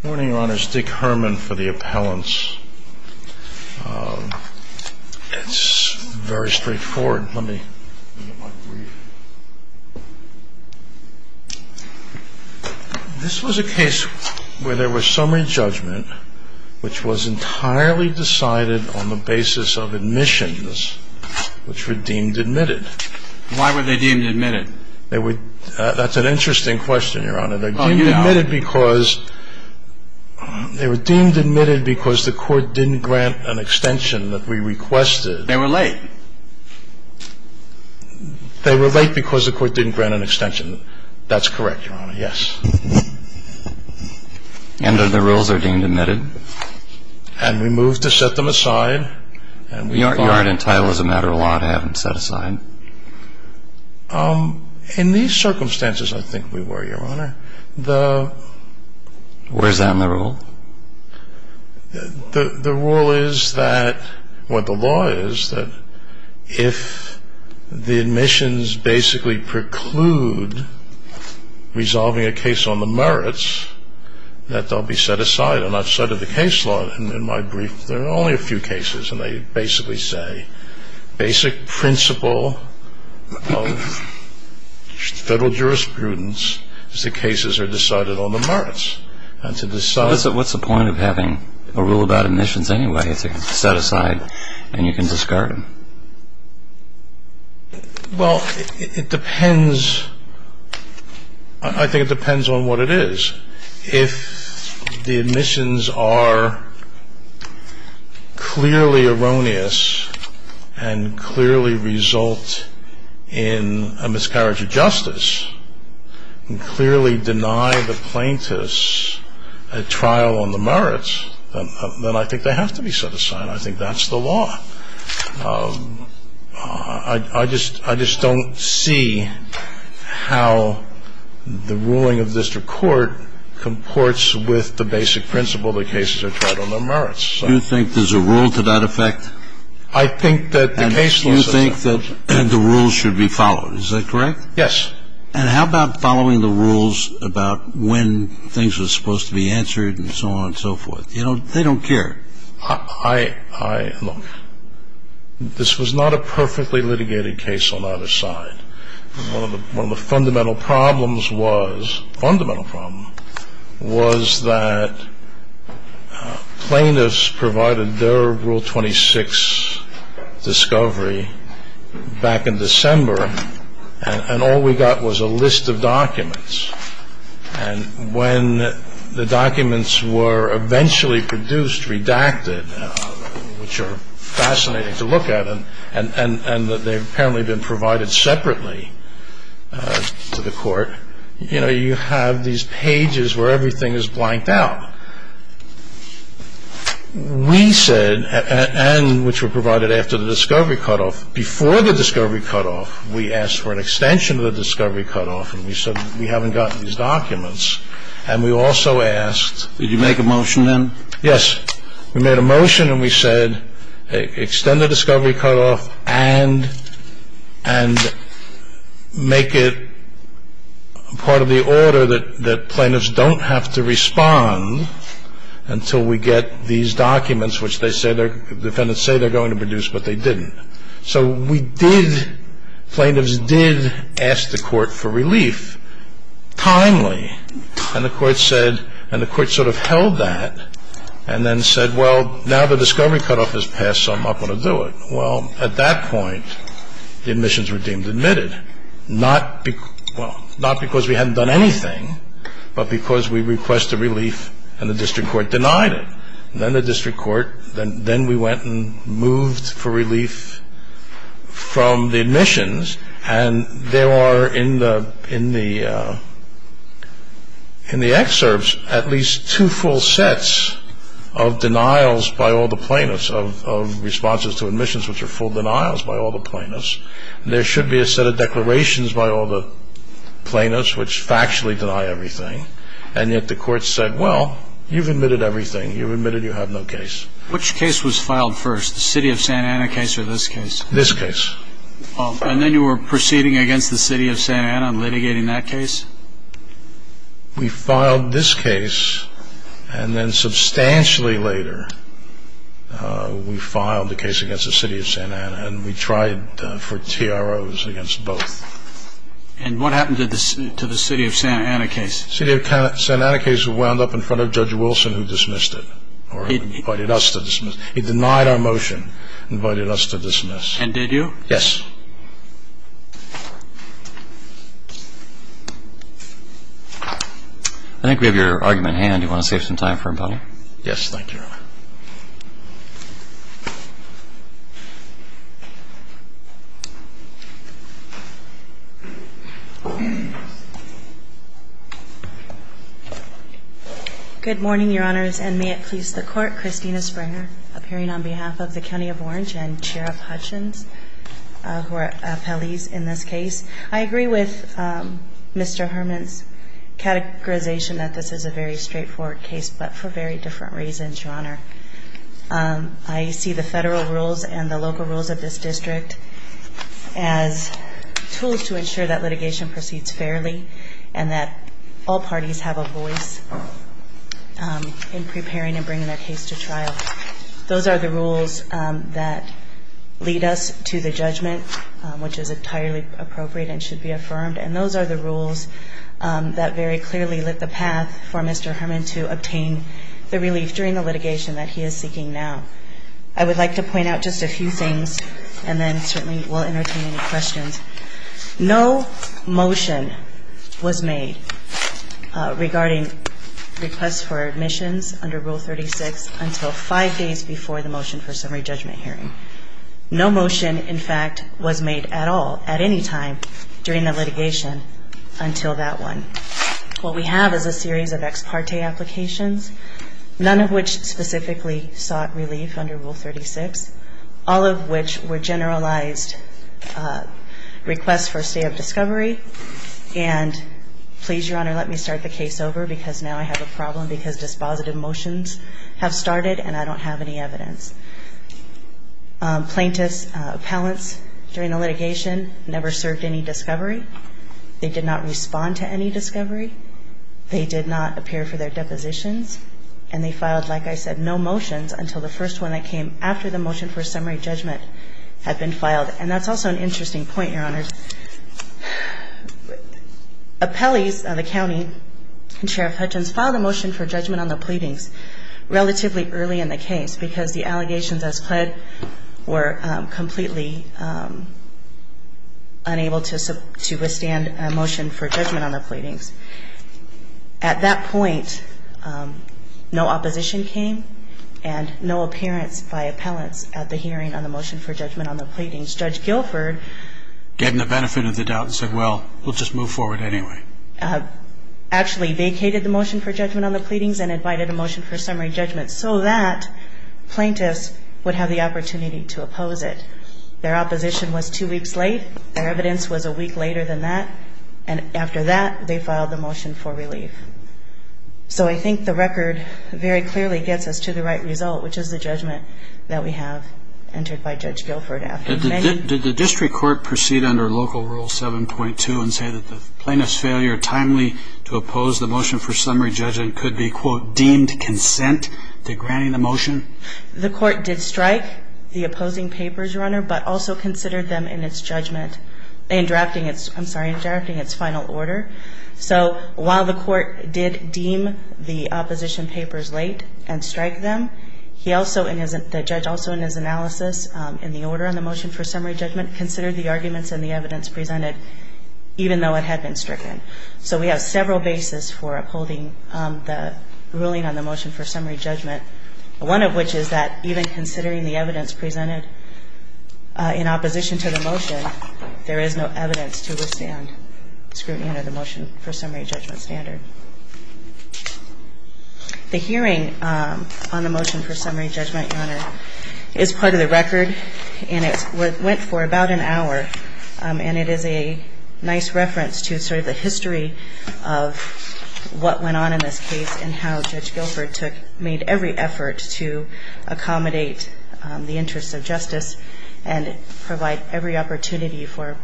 Good morning, Your Honor. It's Dick Herman for the appellants. It's very straightforward. Let me look at my brief. This was a case where there was summary judgment, which was entirely decided on the basis of admissions, which were deemed admitted. Why were they deemed admitted? That's an interesting question, Your Honor. They were deemed admitted because the court didn't grant an extension that we requested. They were late. They were late because the court didn't grant an extension. That's correct, Your Honor. Yes. And are the rules are deemed admitted? And we moved to set them aside. You aren't entitled as a matter of law to have them set aside. In these circumstances, I think we were, Your Honor. Where is that in the rule? The rule is that, what the law is, that if the admissions basically preclude resolving a case on the merits, that they'll be set aside. And outside of the case law, in my brief, there are only a few cases, and they basically say, basic principle of federal jurisprudence is that cases are decided on the merits. What's the point of having a rule about admissions anyway if they're set aside and you can discard them? Well, it depends. I think it depends on what it is. If the admissions are clearly erroneous and clearly result in a miscarriage of justice and clearly deny the plaintiffs a trial on the merits, then I think they have to be set aside. I think that's the law. I just don't see how the ruling of district court comports with the basic principle that cases are tried on the merits. Do you think there's a rule to that effect? I think that the case law is a rule. And you think that the rules should be followed. Is that correct? Yes. And how about following the rules about when things are supposed to be answered and so on and so forth? You know, they don't care. Look, this was not a perfectly litigated case on either side. One of the fundamental problems was that plaintiffs provided their Rule 26 discovery back in December, and all we got was a list of documents. And when the documents were eventually produced, redacted, which are fascinating to look at, and they've apparently been provided separately to the court, you know, you have these pages where everything is blanked out. We said, and which were provided after the discovery cutoff, before the discovery cutoff, we asked for an extension of the discovery cutoff, and we said we haven't gotten these documents. And we also asked. Did you make a motion then? Yes. We made a motion, and we said extend the discovery cutoff and make it part of the order that plaintiffs don't have to respond until we get these documents, which they say their defendants say they're going to produce, but they didn't. So we did, plaintiffs did ask the court for relief timely, and the court said, and the court sort of held that and then said, well, now the discovery cutoff has passed, so I'm not going to do it. Well, at that point, the admissions were deemed admitted, not because we hadn't done anything, but because we requested relief and the district court denied it. Then the district court, then we went and moved for relief from the admissions, and there are in the excerpts at least two full sets of denials by all the plaintiffs, of responses to admissions which are full denials by all the plaintiffs. There should be a set of declarations by all the plaintiffs which factually deny everything, and yet the court said, well, you've admitted everything. You've admitted you have no case. Which case was filed first, the city of Santa Ana case or this case? This case. And then you were proceeding against the city of Santa Ana and litigating that case? We filed this case, and then substantially later we filed the case against the city of Santa Ana, and we tried for TROs against both. And what happened to the city of Santa Ana case? The city of Santa Ana case wound up in front of Judge Wilson who dismissed it, or invited us to dismiss. He denied our motion and invited us to dismiss. And did you? Yes. I think we have your argument in hand. Do you want to save some time for rebuttal? Yes, thank you, Your Honor. Good morning, Your Honors, and may it please the Court, Christina Springer, appearing on behalf of the County of Orange and Sheriff Hutchins, who are appellees in this case. I agree with Mr. Herman's categorization that this is a very straightforward case, but for very different reasons, Your Honor. I see the federal rules and the local rules of this district as tools to ensure that litigation proceeds fairly and that all parties have a voice in preparing and bringing their case to trial. Those are the rules that lead us to the judgment, which is entirely appropriate and should be affirmed, and those are the rules that very clearly lit the path for Mr. Herman to obtain the relief during the litigation that he is seeking now. I would like to point out just a few things, and then certainly we'll entertain any questions. No motion was made regarding requests for admissions under Rule 36 until five days before the motion for summary judgment hearing. No motion, in fact, was made at all at any time during the litigation until that one. What we have is a series of ex parte applications, none of which specifically sought relief under Rule 36, all of which were generalized requests for a state of discovery, and please, Your Honor, let me start the case over because now I have a problem because dispositive motions have started and I don't have any evidence. Plaintiffs, appellants during the litigation never served any discovery. They did not respond to any discovery. They did not appear for their depositions, and they filed, like I said, no motions until the first one that came after the motion for summary judgment had been filed, and that's also an interesting point, Your Honor. Appellees of the county and Sheriff Hutchins filed a motion for judgment on the pleadings relatively early in the case because the allegations as pled were completely unable to withstand a motion for judgment on the pleadings. At that point, no opposition came and no appearance by appellants at the hearing on the motion for judgment on the pleadings. Judge Guilford gave them the benefit of the doubt and said, well, we'll just move forward anyway. Actually vacated the motion for judgment on the pleadings and invited a motion for summary judgment so that plaintiffs would have the opportunity to oppose it. Their opposition was two weeks late. Their evidence was a week later than that, and after that, they filed the motion for relief. So I think the record very clearly gets us to the right result, which is the judgment that we have entered by Judge Guilford. Did the district court proceed under Local Rule 7.2 and say that the plaintiff's failure timely to oppose the motion for summary judgment could be, quote, deemed consent to granting the motion? The court did strike the opposing papers, Your Honor, but also considered them in its judgment in drafting its final order. So while the court did deem the opposition papers late and strike them, the judge also in his analysis in the order on the motion for summary judgment considered the arguments and the evidence presented even though it had been stricken. So we have several bases for upholding the ruling on the motion for summary judgment, one of which is that even considering the evidence presented in opposition to the motion, there is no evidence to withstand scrutiny under the motion for summary judgment standard. The hearing on the motion for summary judgment, Your Honor, is part of the record, and it went for about an hour, and it is a nice reference to sort of the history of what went on in this case and how Judge Guilford made every effort to accommodate the interests of justice and provide every opportunity for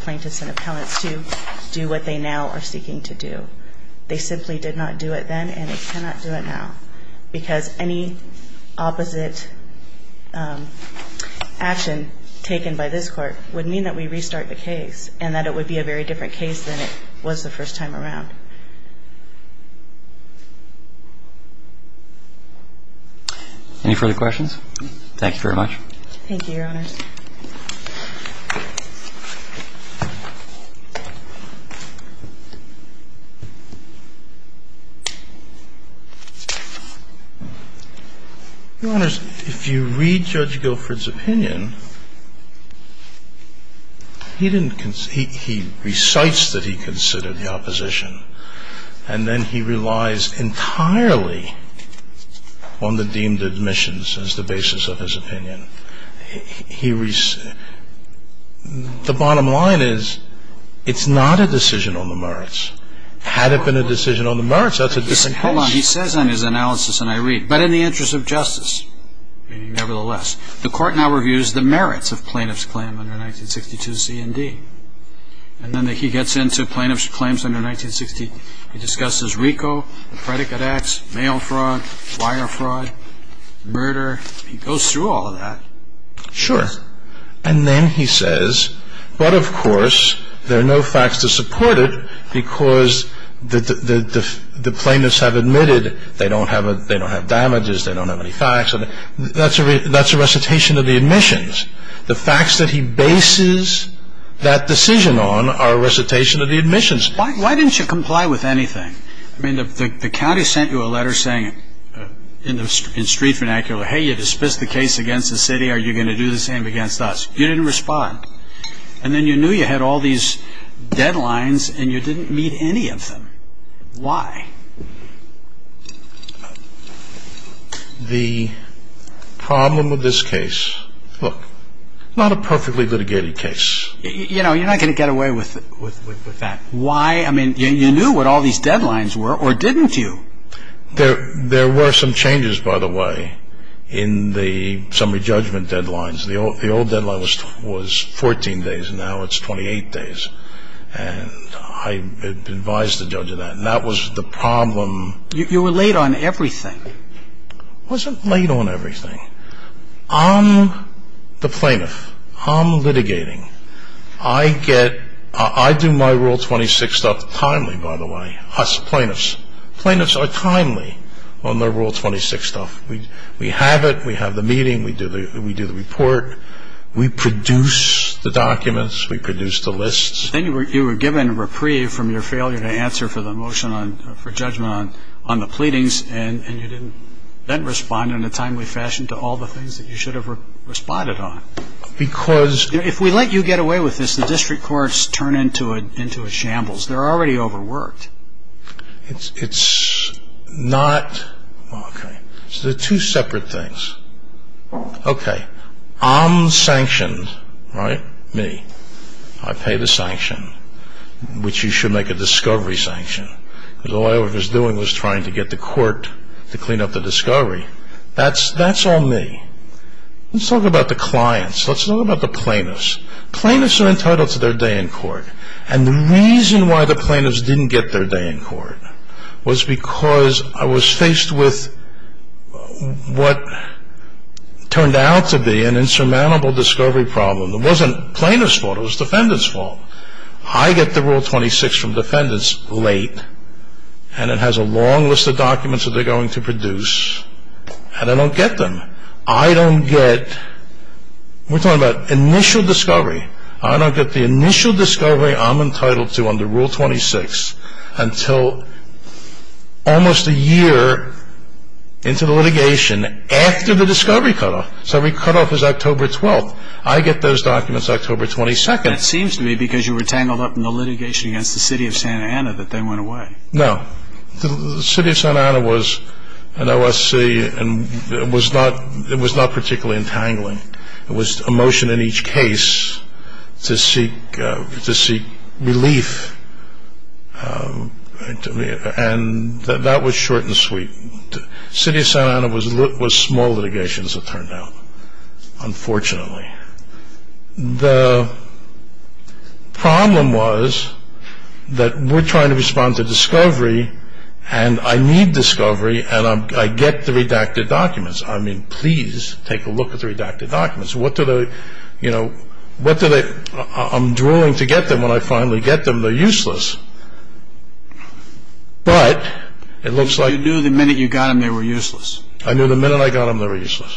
plaintiffs and appellants to do what they now are seeking to do. They simply did not do it then, and they cannot do it now because any opposite action taken by this court would mean that we restart the case and that it would be a very different case than it was the first time around. Any further questions? Thank you, Your Honors. Your Honors, if you read Judge Guilford's opinion, he didn't – he recites that he considered the opposition, and then he relies entirely on the deemed admissions as the basis of his opinion. He – the bottom line is it's not a decision on the merits. Had it been a decision on the merits, that's a different case. Hold on. He says on his analysis, and I read, but in the interest of justice, nevertheless, the court now reviews the merits of plaintiff's claim under 1962 C&D, and then he gets into plaintiff's claims under 1960. He discusses RICO, the predicate acts, mail fraud, wire fraud, murder. He goes through all of that. Sure. And then he says, but of course, there are no facts to support it because the plaintiffs have admitted they don't have damages, they don't have any facts. That's a recitation of the admissions. The facts that he bases that decision on are a recitation of the admissions. Why didn't you comply with anything? I mean, the county sent you a letter saying, in street vernacular, hey, you dispensed the case against the city, are you going to do the same against us? You didn't respond. And then you knew you had all these deadlines and you didn't meet any of them. Why? The problem with this case, look, not a perfectly litigated case. You know, you're not going to get away with that. Why? I mean, you knew what all these deadlines were, or didn't you? There were some changes, by the way, in the summary judgment deadlines. The old deadline was 14 days. Now it's 28 days. And I advised the judge of that. And that was the problem. You were late on everything. I wasn't late on everything. I'm the plaintiff. I'm litigating. I do my Rule 26 stuff timely, by the way. Us plaintiffs. Plaintiffs are timely on their Rule 26 stuff. We have it. We have the meeting. We do the report. We produce the documents. We produce the lists. Then you were given reprieve from your failure to answer for the motion for judgment on the pleadings, and you didn't respond in a timely fashion to all the things that you should have responded on. Because ‑‑ If we let you get away with this, the district courts turn into a shambles. They're already overworked. It's not ‑‑ okay. So they're two separate things. Okay. I'm sanctioned, right? Me. I pay the sanction, which you should make a discovery sanction. Because all I was doing was trying to get the court to clean up the discovery. That's all me. Let's talk about the clients. Let's talk about the plaintiffs. Plaintiffs are entitled to their day in court. And the reason why the plaintiffs didn't get their day in court was because I was faced with what turned out to be an insurmountable discovery problem. It wasn't plaintiffs' fault. It was defendants' fault. I get the Rule 26 from defendants late, and it has a long list of documents that they're going to produce, and I don't get them. I don't get ‑‑ we're talking about initial discovery. I don't get the initial discovery I'm entitled to under Rule 26 until almost a year into the litigation after the discovery cutoff. So the cutoff is October 12th. I get those documents October 22nd. And it seems to me because you were tangled up in the litigation against the city of Santa Ana that they went away. No. The city of Santa Ana was an OSC, and it was not particularly entangling. It was a motion in each case to seek relief, and that was short and sweet. The city of Santa Ana was small litigation, as it turned out, unfortunately. The problem was that we're trying to respond to discovery, and I need discovery, and I get the redacted documents. I mean, please take a look at the redacted documents. What do they ‑‑ you know, what do they ‑‑ I'm drooling to get them. When I finally get them, they're useless. But it looks like ‑‑ You knew the minute you got them, they were useless. I knew the minute I got them, they were useless.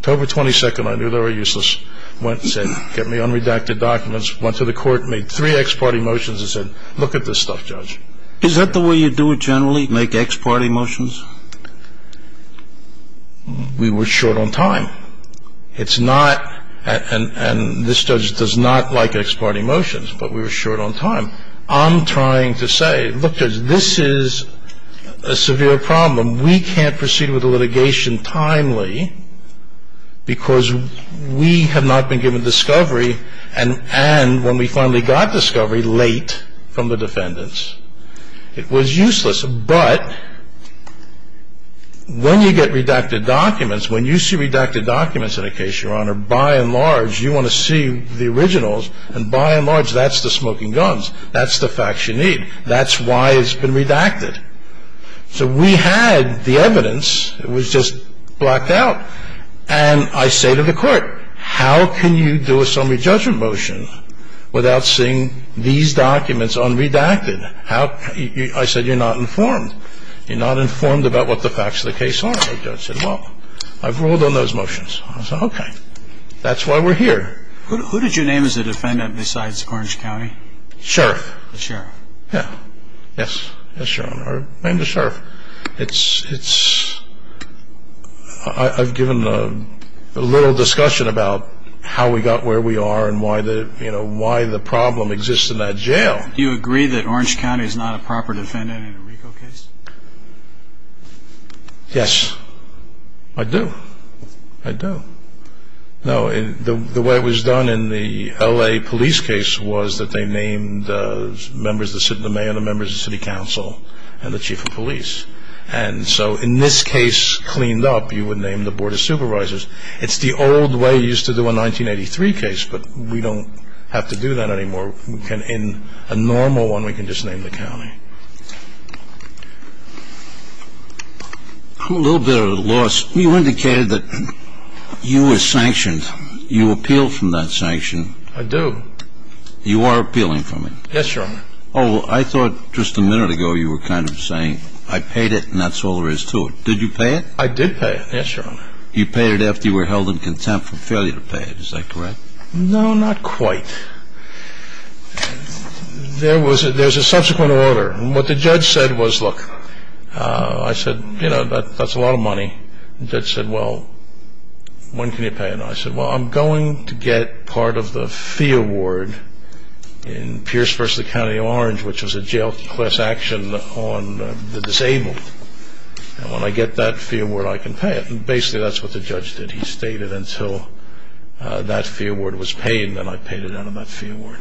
October 22nd, I knew they were useless. Went and said, get me unredacted documents. Went to the court and made three ex parte motions and said, look at this stuff, Judge. Is that the way you do it generally, make ex parte motions? We were short on time. It's not ‑‑ and this judge does not like ex parte motions, but we were short on time. I'm trying to say, look, Judge, this is a severe problem. We can't proceed with the litigation timely because we have not been given discovery, and when we finally got discovery, late from the defendants. It was useless. But when you get redacted documents, when you see redacted documents in a case, Your Honor, by and large, you want to see the originals, and by and large, that's the smoking guns. That's the facts you need. That's why it's been redacted. So we had the evidence. It was just blacked out. And I say to the court, how can you do a summary judgment motion without seeing these documents unredacted? I said, you're not informed. You're not informed about what the facts of the case are. The judge said, well, I've ruled on those motions. I said, okay. That's why we're here. Who did you name as a defendant besides Orange County? Sheriff. The Sheriff. Yes. Yes, Your Honor. I named the Sheriff. I've given a little discussion about how we got where we are and why the problem exists in that jail. Do you agree that Orange County is not a proper defendant in a RICO case? Yes. I do. I do. No, the way it was done in the L.A. police case was that they named the mayor, the members of the city council, and the chief of police. And so in this case cleaned up, you would name the board of supervisors. It's the old way you used to do a 1983 case, but we don't have to do that anymore. In a normal one, we can just name the county. A little bit of a loss. You indicated that you were sanctioned. You appealed from that sanction. I do. You are appealing from it. Yes, Your Honor. Oh, I thought just a minute ago you were kind of saying, I paid it and that's all there is to it. Did you pay it? I did pay it, yes, Your Honor. You paid it after you were held in contempt for failure to pay it. Is that correct? No, not quite. There was a subsequent order. And what the judge said was, look, I said, you know, that's a lot of money. The judge said, well, when can you pay it? And I said, well, I'm going to get part of the fee award in Pierce v. County Orange, which was a jail class action on the disabled. And when I get that fee award, I can pay it. And basically that's what the judge did. He stated until that fee award was paid, and then I paid it out of that fee award.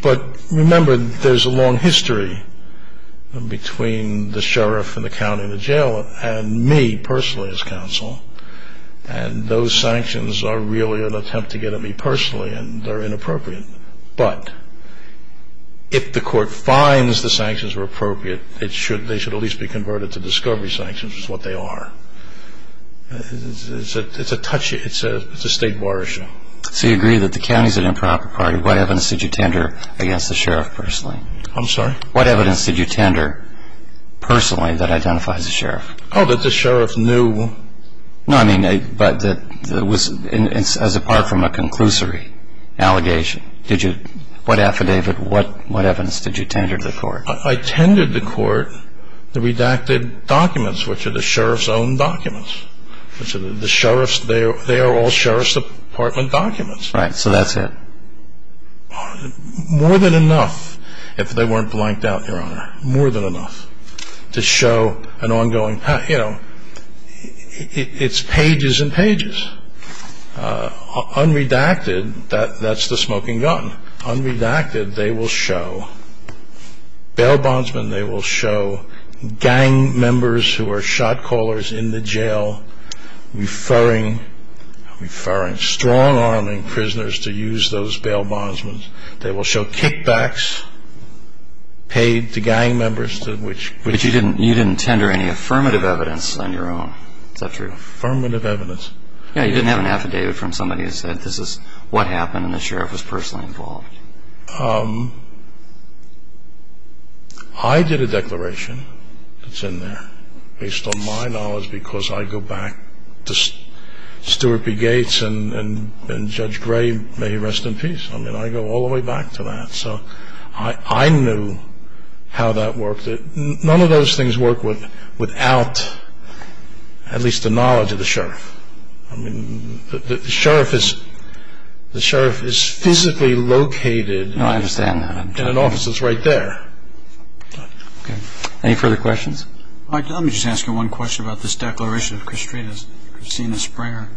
But remember, there's a long history between the sheriff and the county and the jail and me personally as counsel. And those sanctions are really an attempt to get at me personally, and they're inappropriate. But if the court finds the sanctions were appropriate, they should at least be converted to discovery sanctions, which is what they are. It's a state bar issue. So you agree that the county is an improper party. What evidence did you tender against the sheriff personally? I'm sorry? What evidence did you tender personally that identifies the sheriff? Oh, that the sheriff knew. No, I mean, as apart from a conclusory allegation. What affidavit, what evidence did you tender to the court? I tended to court the redacted documents, which are the sheriff's own documents. They are all sheriff's department documents. Right. So that's it. More than enough, if they weren't blanked out, Your Honor. More than enough to show an ongoing path. You know, it's pages and pages. Unredacted, that's the smoking gun. Unredacted, they will show, bail bondsmen they will show, gang members who are shot callers in the jail, referring strong-arming prisoners to use those bail bondsmen. They will show kickbacks paid to gang members. But you didn't tender any affirmative evidence on your own. Is that true? Affirmative evidence. Yeah, you didn't have an affidavit from somebody that said, this is what happened and the sheriff was personally involved. I did a declaration that's in there, based on my knowledge, because I go back to Stuart B. Gates and Judge Gray, may he rest in peace. I mean, I go all the way back to that. So I knew how that worked. None of those things work without at least the knowledge of the sheriff. I mean, the sheriff is physically located. No, I understand that. In an office that's right there. Okay. Any further questions? Mike, let me just ask you one question about this declaration of Christina Springer.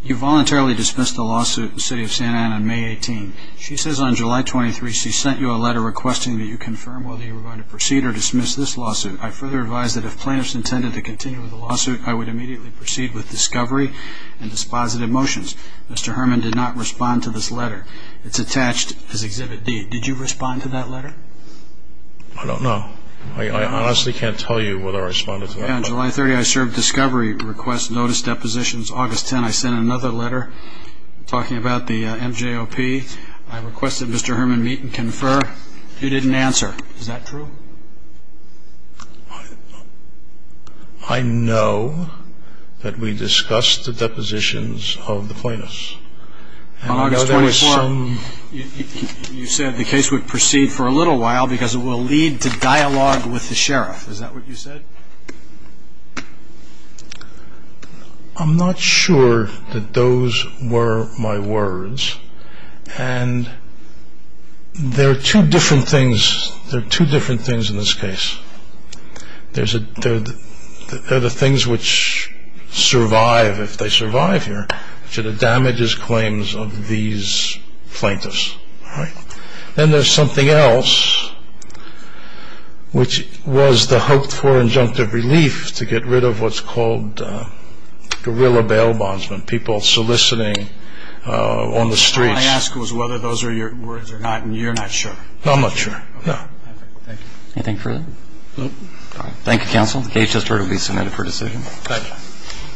You voluntarily dismissed the lawsuit in the city of Santa Ana on May 18. She says on July 23 she sent you a letter requesting that you confirm whether you were going to proceed or dismiss this lawsuit. I further advise that if plaintiffs intended to continue with the lawsuit, I would immediately proceed with discovery and dispositive motions. Mr. Herman did not respond to this letter. It's attached as Exhibit D. Did you respond to that letter? I don't know. I honestly can't tell you whether I responded to that letter. On July 30, I served discovery request notice depositions. August 10, I sent another letter talking about the MJOP. I requested Mr. Herman meet and confer. He didn't answer. Is that true? I know that we discussed the depositions of the plaintiffs. On August 24, you said the case would proceed for a little while because it will lead to dialogue with the sheriff. Is that what you said? I'm not sure that those were my words. There are two different things in this case. There are the things which survive if they survive here, which are the damages claims of these plaintiffs. Then there's something else, which was the hope for injunctive relief to get rid of what's called guerrilla bail bondsmen, people soliciting on the streets. What I asked was whether those were your words or not, and you're not sure. No, I'm not sure, no. Thank you. Anything further? No. Thank you, counsel. The case has heard and will be submitted for decision. Thank you.